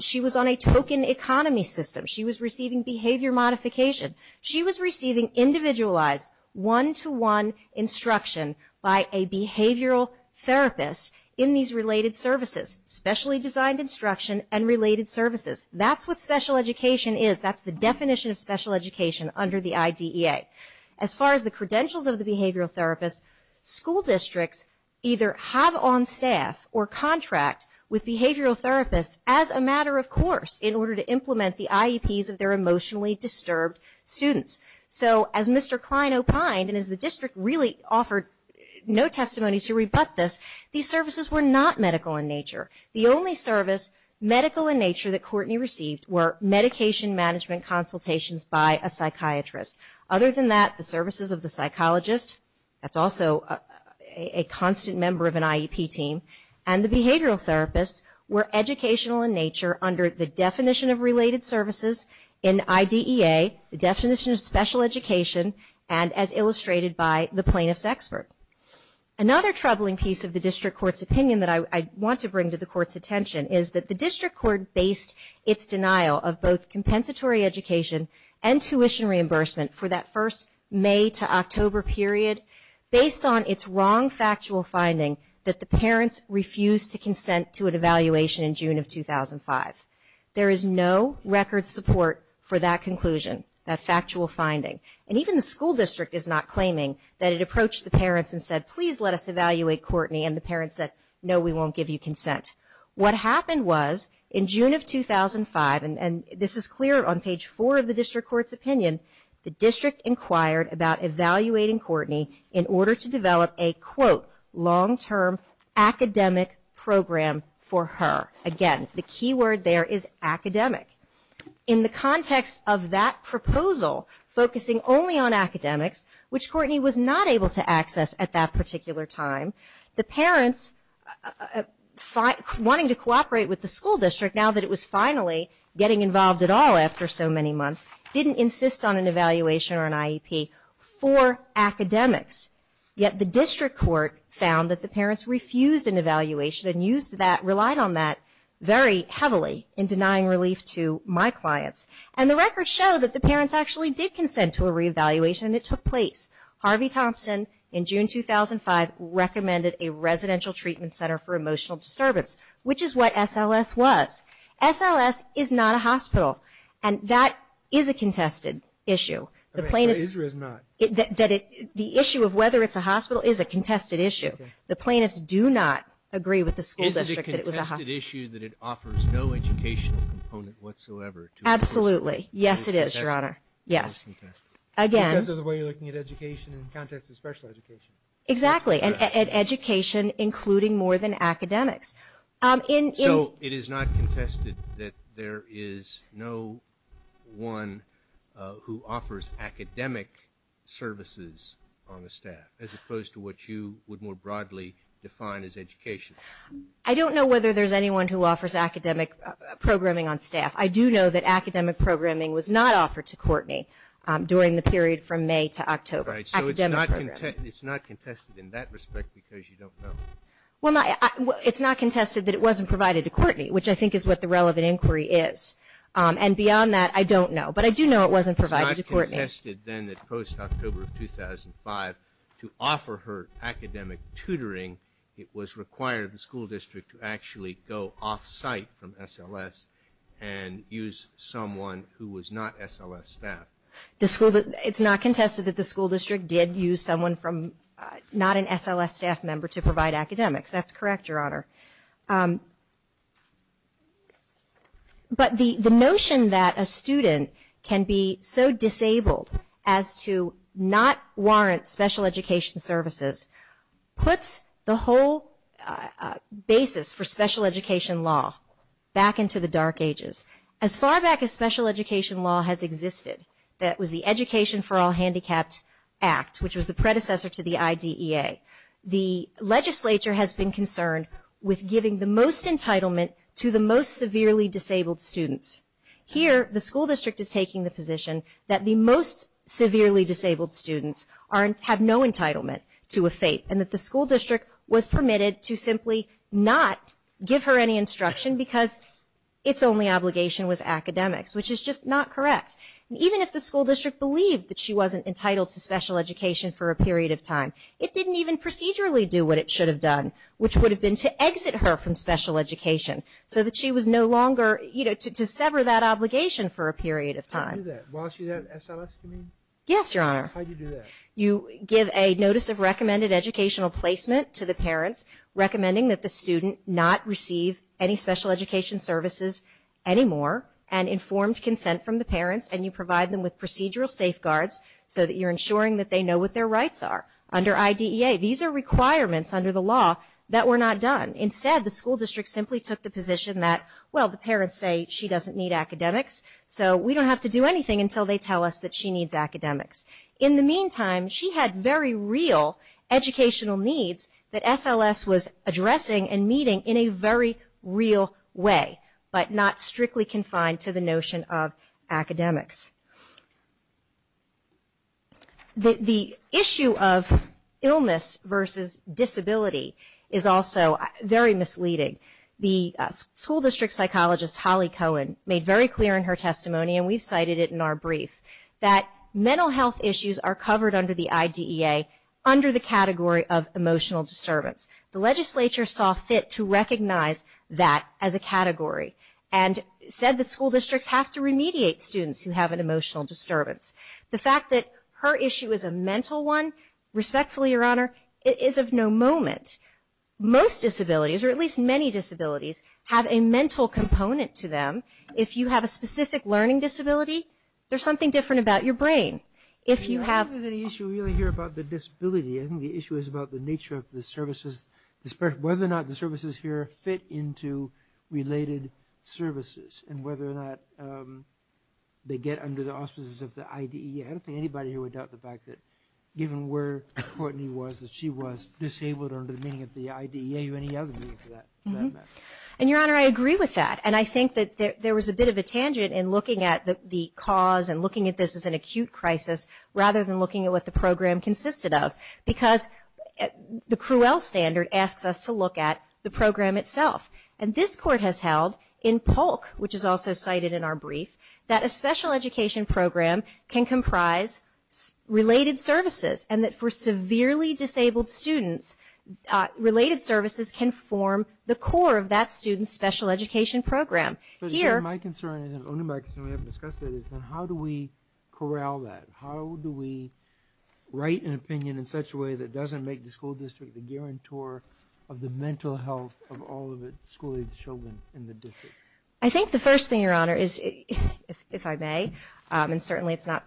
She was on a token economy system. She was receiving behavior modification. She was receiving individualized, one-to-one instruction by a behavioral therapist in these related services, specially designed instruction and related services. That's what special education is. That's the definition of special education under the IDEA. As far as the credentials of the behavioral therapist, school districts either have on staff or contract with behavioral therapists as a matter of course in order to implement the IEPs of their emotionally disturbed students. So as Mr. Klein opined, and as the district really offered no testimony to rebut this, these services were not medical in nature. The only service medical in nature that Courtney received were medication management consultations by a psychiatrist. Other than that, the services of the psychologist, that's also a constant member of an IEP team, and the behavioral therapist were educational in nature under the definition of related services in IDEA, the definition of special education, and as illustrated by the plaintiff's expert. Another troubling piece of the district court's opinion that I want to bring to the court's attention is that the district court based its denial of both compensatory education and tuition reimbursement for that first May to October period based on its wrong factual finding that the parents refused to consent to an evaluation in June of 2005. There is no record support for that conclusion, that factual finding, and even the school district is not claiming that it approached the parents and said, please let us evaluate Courtney, and the parents said, no, we won't give you consent. What happened was in June of 2005, and this is clear on page four of the district court's opinion, the district inquired about evaluating Courtney in order to develop a, quote, long-term academic program for her. Again, the key word there is academic. In the context of that proposal focusing only on academics, which Courtney was not able to access at that particular time, the parents, wanting to cooperate with the school district now that it was finally getting involved at all after so many months, didn't insist on an evaluation or an IEP for academics, yet the district court found that the parents refused an evaluation and relied on that very heavily in denying relief to my clients. And the records show that the parents actually did consent to a reevaluation, and it took place. Harvey Thompson, in June 2005, recommended a residential treatment center for emotional disturbance, which is what SLS was. SLS is not a hospital, and that is a contested issue. The plaintiff's. It is or is not? The issue of whether it's a hospital is a contested issue. The plaintiffs do not agree with the school district that it was a hospital. Is it a contested issue that it offers no educational component whatsoever to a person? Absolutely. Yes, it is, Your Honor. Yes. Again. Because of the way you're looking at education in the context of special education. Exactly, and education including more than academics. So it is not contested that there is no one who offers academic services on the staff, as opposed to what you would more broadly define as education? I don't know whether there's anyone who offers academic programming on staff. I do know that academic programming was not offered to Courtney during the period from May to October. Right. Academic programming. So it's not contested in that respect because you don't know? Well, it's not contested that it wasn't provided to Courtney, which I think is what the relevant inquiry is. And beyond that, I don't know. But I do know it wasn't provided to Courtney. It's not contested then that post-October of 2005, to offer her academic tutoring, it was required the school district to actually go off-site from SLS and use someone who was not SLS staff. It's not contested that the school district did use someone from not an SLS staff member to provide academics. That's correct, Your Honor. But the notion that a student can be so disabled as to not warrant special education services puts the whole basis for special education law back into the dark ages. As far back as special education law has existed, that was the Education for All Handicapped Act, which was the predecessor to the IDEA, the legislature has been concerned with giving the most entitlement to the most severely disabled students. Here, the school district is taking the position that the most severely disabled students have no entitlement to a FATE and that the school district was permitted to simply not give her any instruction because its only obligation was academics, which is just not correct. Even if the school district believed that she wasn't entitled to special education for a period of time, it didn't even procedurally do what it should have done, which would have been to exit her from special education, so that she was no longer, you know, to sever that obligation for a period of time. How do you do that? While she's at SLS, you mean? Yes, Your Honor. How do you do that? You give a notice of recommended educational placement to the parents, recommending that the student not receive any special education services anymore, and informed consent from the parents, and you provide them with procedural safeguards so that you're ensuring that they know what their rights are. Under IDEA, these are requirements under the law that were not done. Instead, the school district simply took the position that, well, the parents say she doesn't need academics, so we don't have to do anything until they tell us that she needs academics. In the meantime, she had very real educational needs that SLS was addressing and meeting in a very real way, but not strictly confined to the notion of academics. The issue of illness versus disability is also very misleading. The school district psychologist, Holly Cohen, made very clear in her testimony, and we've cited it in our brief, that mental health issues are covered under the IDEA under the category of emotional disturbance. The legislature saw fit to recognize that as a category, and said that school districts have to remediate students who have an emotional disturbance. The fact that her issue is a mental one, respectfully, Your Honor, is of no moment. Most disabilities, or at least many disabilities, have a mental component to them. If you have a specific learning disability, there's something different about your brain. I don't think there's an issue here about the disability. I think the issue is about the nature of the services, whether or not the services here fit into related services, and whether or not they get under the auspices of the IDEA. I don't think anybody here would doubt the fact that, given where Courtney was, that she was disabled under the meaning of the IDEA or any other meaning for that matter. Your Honor, I agree with that, and I think that there was a bit of a tangent in looking at the cause and looking at this as an acute crisis, rather than looking at what the program consisted of. Because the CRUEL standard asks us to look at the program itself. This Court has held, in Polk, which is also cited in our brief, that a special education program can comprise related services, and that for severely disabled students, related services can form the core of that student's special education program. My concern, and only my concern, we haven't discussed it, is how do we corral that? How do we write an opinion in such a way that doesn't make the school district the guarantor of the mental health of all of the school-aged children in the district? I think the first thing, Your Honor, is, if I may, and certainly it's not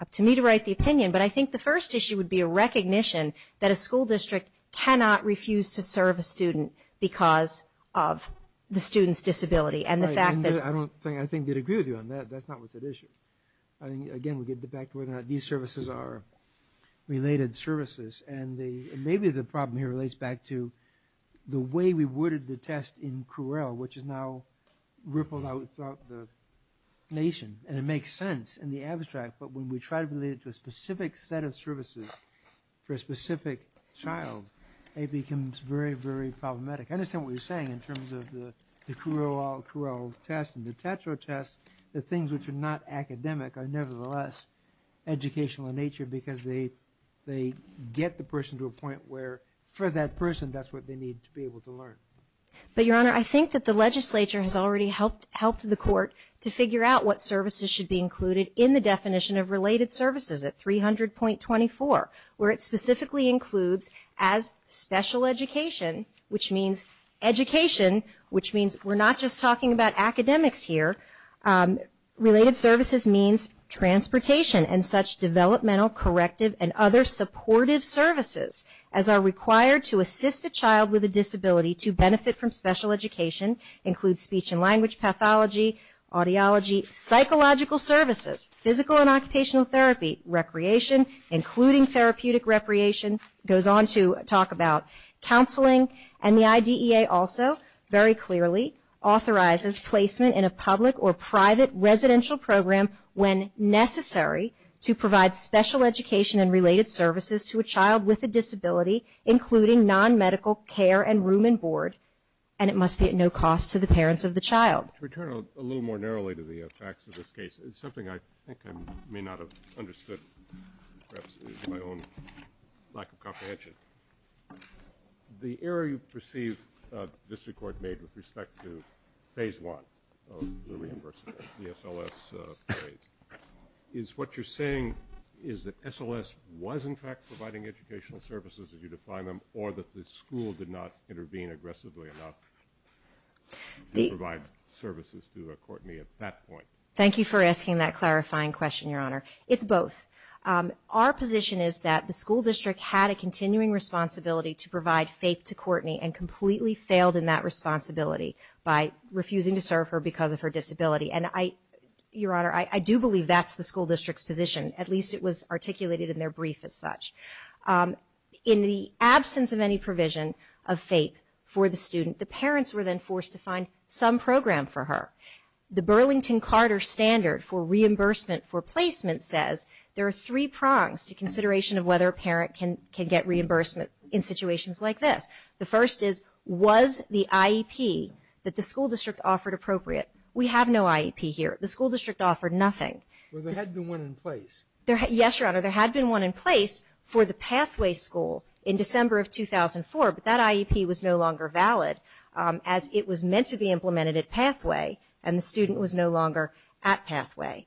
up to me to write the opinion, but I think the first issue would be a recognition that a school district cannot refuse to serve a student because of the student's disability, and the fact that... Right, and I don't think I could agree with you on that. That's not what's at issue. Again, we get back to whether or not these services are related services, and maybe the problem here relates back to the way we worded the test in CRUEL, which has now rippled out throughout the nation, and it makes sense in the abstract, but when we try to relate it to a specific set of services for a specific child, it becomes very, very problematic. I understand what you're saying in terms of the CRUEL test and the tetra test, the things which are not academic are nevertheless educational in nature because they get the person to a point where, for that person, that's what they need to be able to learn. But, Your Honor, I think that the legislature has already helped the court to figure out what services should be included in the definition of related services at 300.24, where it specifically includes as special education, which means education, which means we're not just talking about academics here. Related services means transportation and such developmental, corrective, and other supportive services as are required to assist a child with a disability to benefit from special education, include speech and language pathology, audiology, psychological services, physical and occupational therapy, state recreation, including therapeutic recreation, goes on to talk about counseling, and the IDEA also very clearly authorizes placement in a public or private residential program when necessary to provide special education and related services to a child with a disability, including non-medical care and room and board, and it must be at no cost to the parents of the child. To return a little more narrowly to the facts of this case, something I think I may not have understood perhaps is my own lack of comprehension. The error you perceive the district court made with respect to phase one of the reimbursement, the SLS phase, is what you're saying is that SLS was in fact providing educational services as you define them or that the school did not intervene aggressively enough to provide services to Courtney at that point. Thank you for asking that clarifying question, Your Honor. It's both. Our position is that the school district had a continuing responsibility to provide faith to Courtney and completely failed in that responsibility by refusing to serve her because of her disability, and Your Honor, I do believe that's the school district's position. At least it was articulated in their brief as such. In the absence of any provision of faith for the student, the parents were then forced to find some program for her. The Burlington-Carter standard for reimbursement for placement says there are three prongs to consideration of whether a parent can get reimbursement in situations like this. The first is, was the IEP that the school district offered appropriate? We have no IEP here. The school district offered nothing. Well, there had been one in place. Yes, Your Honor, there had been one in place for the Pathway School in December of 2004, but that IEP was no longer valid as it was meant to be implemented at Pathway and the student was no longer at Pathway.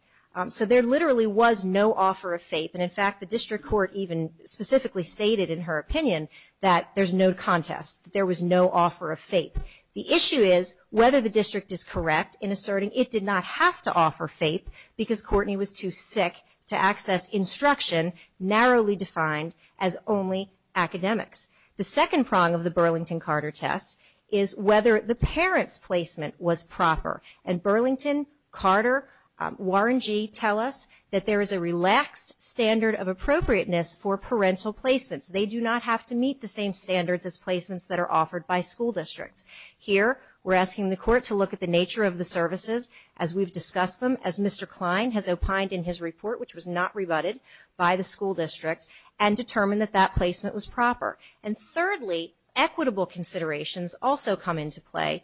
So there literally was no offer of faith, and, in fact, the district court even specifically stated in her opinion that there's no contest, that there was no offer of faith. The issue is whether the district is correct in asserting it did not have to offer faith because Courtney was too sick to access instruction narrowly defined as only academics. The second prong of the Burlington-Carter test is whether the parent's placement was proper, and Burlington-Carter, Warren G., tell us that there is a relaxed standard of appropriateness for parental placements. They do not have to meet the same standards as placements that are offered by school districts. Here we're asking the court to look at the nature of the services as we've discussed them, as Mr. Klein has opined in his report, which was not rebutted by the school district, and determine that that placement was proper. And thirdly, equitable considerations also come into play,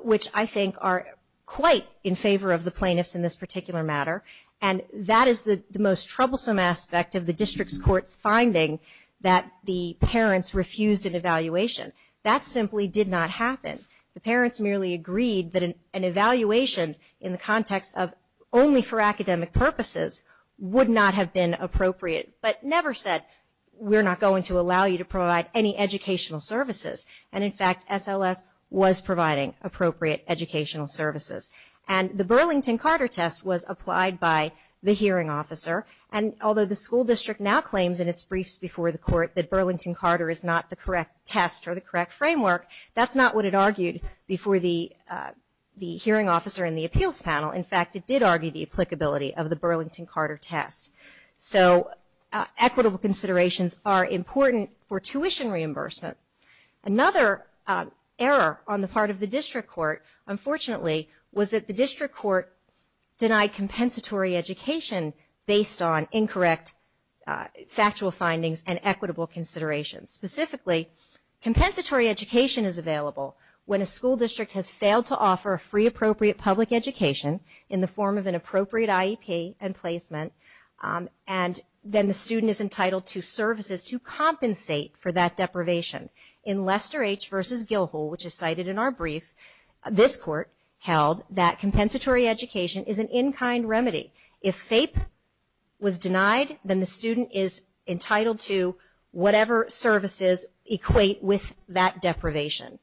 which I think are quite in favor of the plaintiffs in this particular matter, and that is the most troublesome aspect of the district's court's finding that the parents refused an evaluation. That simply did not happen. The parents merely agreed that an evaluation in the context of only for academic purposes would not have been appropriate, but never said we're not going to allow you to provide any educational services, and in fact SLS was providing appropriate educational services. And the Burlington-Carter test was applied by the hearing officer, and although the school district now claims in its briefs before the court that Burlington-Carter is not the correct test or the correct framework, that's not what it argued before the hearing officer in the appeals panel. In fact, it did argue the applicability of the Burlington-Carter test. So equitable considerations are important for tuition reimbursement. Another error on the part of the district court, unfortunately, was that the district court denied compensatory education based on incorrect factual findings and equitable considerations. Specifically, compensatory education is available when a school district has failed to offer a free, appropriate public education in the form of an appropriate IEP and placement, and then the student is entitled to services to compensate for that deprivation. In Lester H. v. Gilhol, which is cited in our brief, this court held that compensatory education is an in-kind remedy. If FAPE was denied, then the student is entitled to whatever services equate with that deprivation.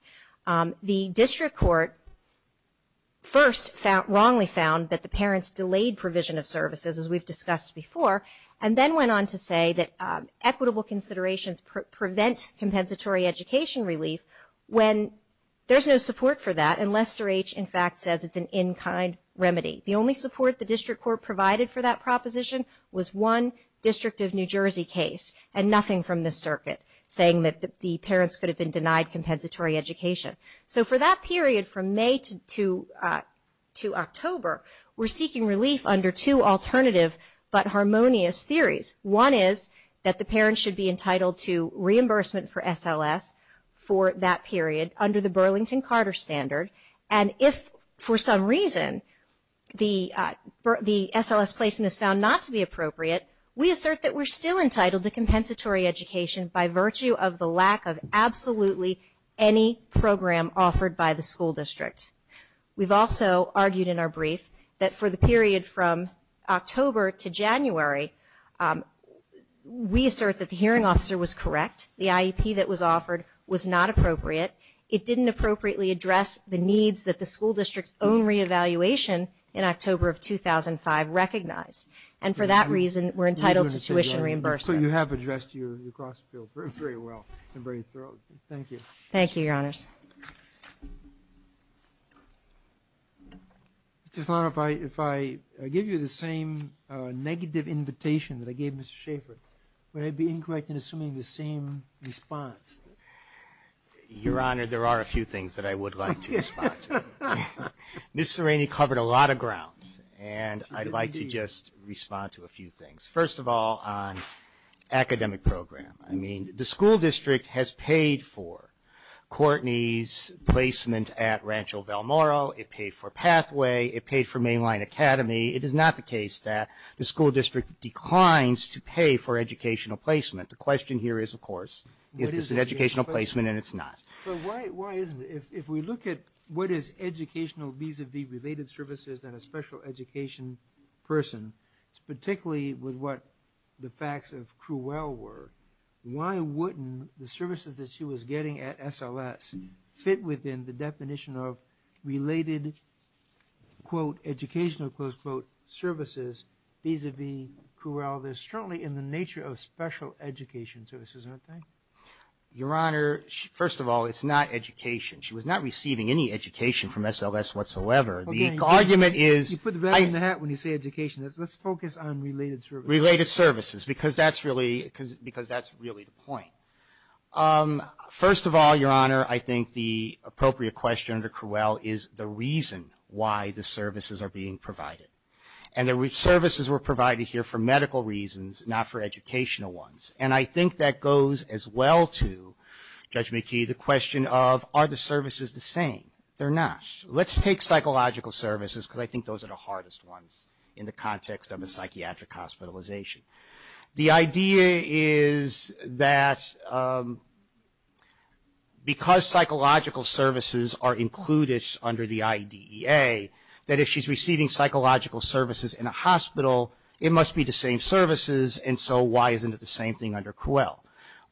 The district court first wrongly found that the parents delayed provision of services, as we've discussed before, and then went on to say that equitable considerations prevent compensatory education relief when there's no support for that, and Lester H. in fact says it's an in-kind remedy. The only support the district court provided for that proposition was one district of New Jersey case, and nothing from the circuit saying that the parents could have been denied compensatory education. So for that period from May to October, we're seeking relief under two alternative but harmonious theories. One is that the parents should be entitled to reimbursement for SLS for that period under the Burlington-Carter standard, and if for some reason the SLS placement is found not to be appropriate, we assert that we're still entitled to compensatory education by virtue of the lack of absolutely any program offered by the school district. We've also argued in our brief that for the period from October to January, we assert that the hearing officer was correct. The IEP that was offered was not appropriate. It didn't appropriately address the needs that the school district's own re-evaluation in October of 2005 recognized, and for that reason we're entitled to tuition reimbursement. So you have addressed your cross-field very well and very thoroughly. Thank you. Thank you, Your Honors. Mr. Salano, if I give you the same negative invitation that I gave Mr. Schaffer, would I be incorrect in assuming the same response? Your Honor, there are a few things that I would like to respond to. Ms. Serrini covered a lot of ground, and I'd like to just respond to a few things. First of all, on academic program. I mean, the school district has paid for Courtney's placement at Rancho Valmoro. It paid for Pathway. It paid for Mainline Academy. It is not the case that the school district declines to pay for educational placement. The question here is, of course, is this an educational placement, and it's not. But why isn't it? If we look at what is educational vis-a-vis related services and a special education person, particularly with what the facts of Cruel were, why wouldn't the services that she was getting at SLS fit within the definition of related, quote, educational, close quote, services vis-a-vis Cruel? They're certainly in the nature of special education services, aren't they? Your Honor, first of all, it's not education. She was not receiving any education from SLS whatsoever. The argument is – You put the bag on the hat when you say education. Let's focus on related services. Related services, because that's really the point. First of all, Your Honor, I think the appropriate question under Cruel is the reason why the services are being provided. And the services were provided here for medical reasons, not for educational ones. And I think that goes as well to, Judge McKee, the question of, are the services the same? They're not. Let's take psychological services, because I think those are the hardest ones in the context of a psychiatric hospitalization. The idea is that because psychological services are included under the IDEA, that if she's receiving psychological services in a hospital, it must be the same services, and so why isn't it the same thing under Cruel?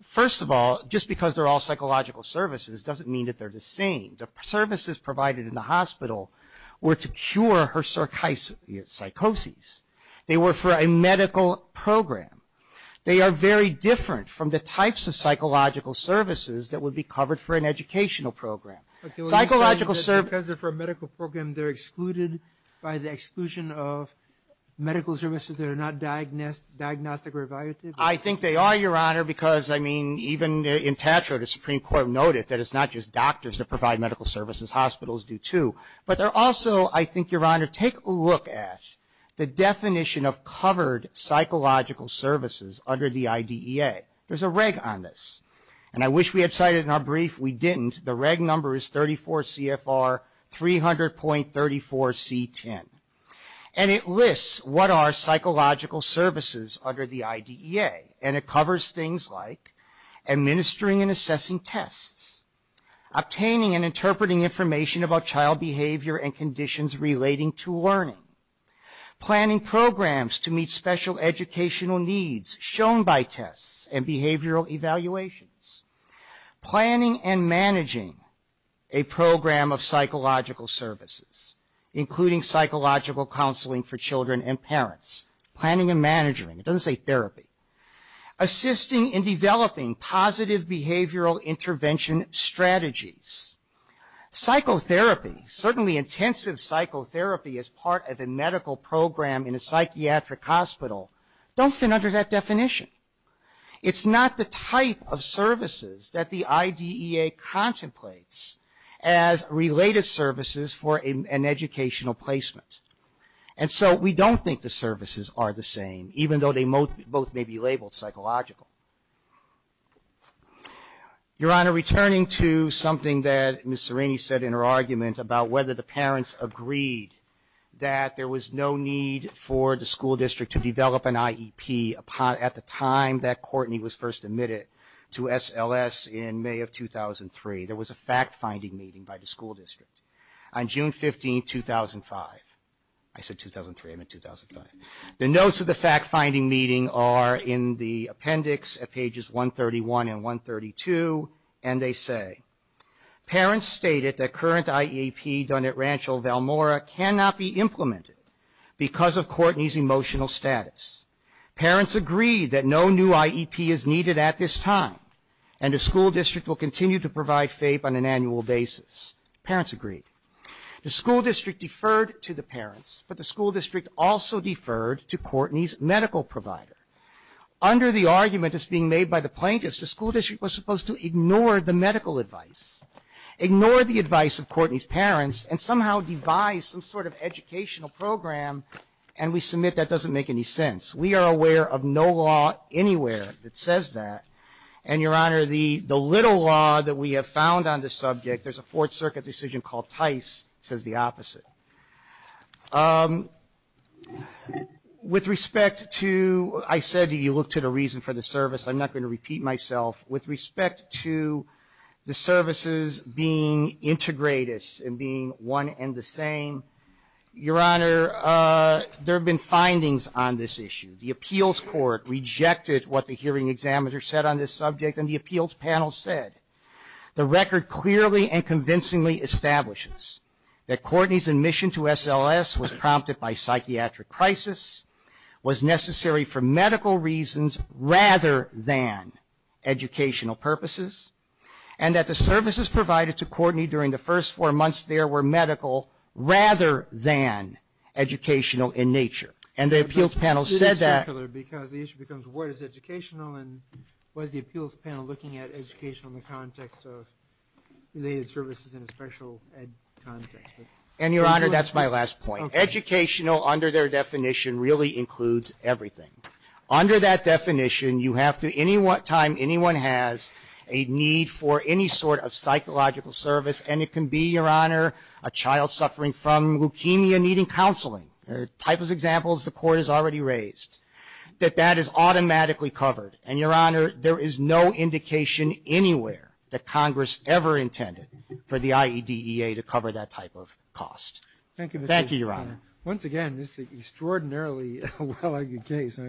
First of all, just because they're all psychological services doesn't mean that they're the same. The services provided in the hospital were to cure her psychosis. They were for a medical program. They are very different from the types of psychological services that would be covered for an educational program. Psychological services are for a medical program. They're excluded by the exclusion of medical services that are not diagnostic or evaluative. I think they are, Your Honor, because, I mean, even in TATRA, the Supreme Court noted that it's not just doctors that provide medical services. Hospitals do, too. But they're also, I think, Your Honor, take a look at the definition of covered psychological services under the IDEA. There's a reg on this, and I wish we had cited it in our brief. We didn't. The reg number is 34 CFR 300.34 C10, and it lists what are psychological services under the IDEA, and it covers things like administering and assessing tests, obtaining and interpreting information about child behavior and conditions relating to learning, planning programs to meet special educational needs shown by tests and behavioral evaluations, planning and managing a program of psychological services, including psychological counseling for children and parents, planning and managing, it doesn't say therapy, assisting in developing positive behavioral intervention strategies. Psychotherapy, certainly intensive psychotherapy as part of a medical program in a psychiatric hospital, don't fit under that definition. It's not the type of services that the IDEA contemplates as related services for an educational placement. And so we don't think the services are the same, even though they both may be labeled psychological. Your Honor, returning to something that Ms. Serrini said in her argument about whether the parents agreed that there was no need for the school district to develop an IEP at the time that Courtney was first admitted to SLS in May of 2003. There was a fact-finding meeting by the school district on June 15, 2005. I said 2003, I meant 2005. The notes of the fact-finding meeting are in the appendix at pages 131 and 132, and they say, parents stated that current IEP done at Rancho Valmora cannot be implemented because of Courtney's emotional status. Parents agreed that no new IEP is needed at this time, and the school district will continue to provide FAPE on an annual basis. Parents agreed. The school district deferred to the parents, but the school district also deferred to Courtney's medical provider. Under the argument that's being made by the plaintiffs, the school district was supposed to ignore the medical advice, ignore the advice of Courtney's parents, and somehow devise some sort of educational program, and we submit that doesn't make any sense. We are aware of no law anywhere that says that. And, Your Honor, the little law that we have found on this subject, there's a Fourth Circuit decision called Tice, says the opposite. With respect to, I said you looked at a reason for the service. I'm not going to repeat myself. With respect to the services being integrated and being one and the same, Your Honor, there have been findings on this issue. The appeals court rejected what the hearing examiner said on this subject, and the appeals panel said the record clearly and convincingly establishes that Courtney's admission to SLS was prompted by psychiatric crisis, was necessary for medical reasons rather than educational purposes, and that the services provided to Courtney during the first four months there were medical rather than educational in nature. And the appeals panel said that. It's circular because the issue becomes what is educational, and what is the appeals panel looking at educational in the context of related services in a special ed context. And, Your Honor, that's my last point. Educational under their definition really includes everything. Under that definition, you have to, any time anyone has a need for any sort of psychological service, and it can be, Your Honor, a child suffering from leukemia needing counseling. There are types of examples the court has already raised that that is automatically covered. And, Your Honor, there is no indication anywhere that Congress ever intended for the IEDEA to cover that type of cost. Thank you, Your Honor. Once again, this is an extraordinarily well-argued case. I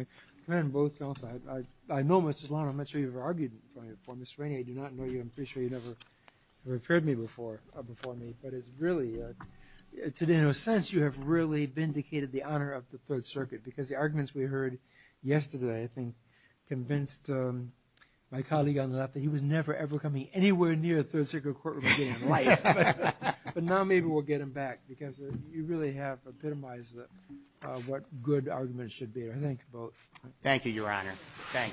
know, Mr. Solano, I'm not sure you've ever argued before. Ms. Rainey, I do not know you. I'm pretty sure you never referred me before me. But it's really, today, in a sense, you have really vindicated the honor of the Third Circuit because the arguments we heard yesterday, I think, convinced my colleague on the left that he was never, ever coming anywhere near a Third Circuit courtroom again in life. But now maybe we'll get him back because you really have epitomized what good arguments should be. I thank you both. Thank you, Your Honor. Thank you. Thank you.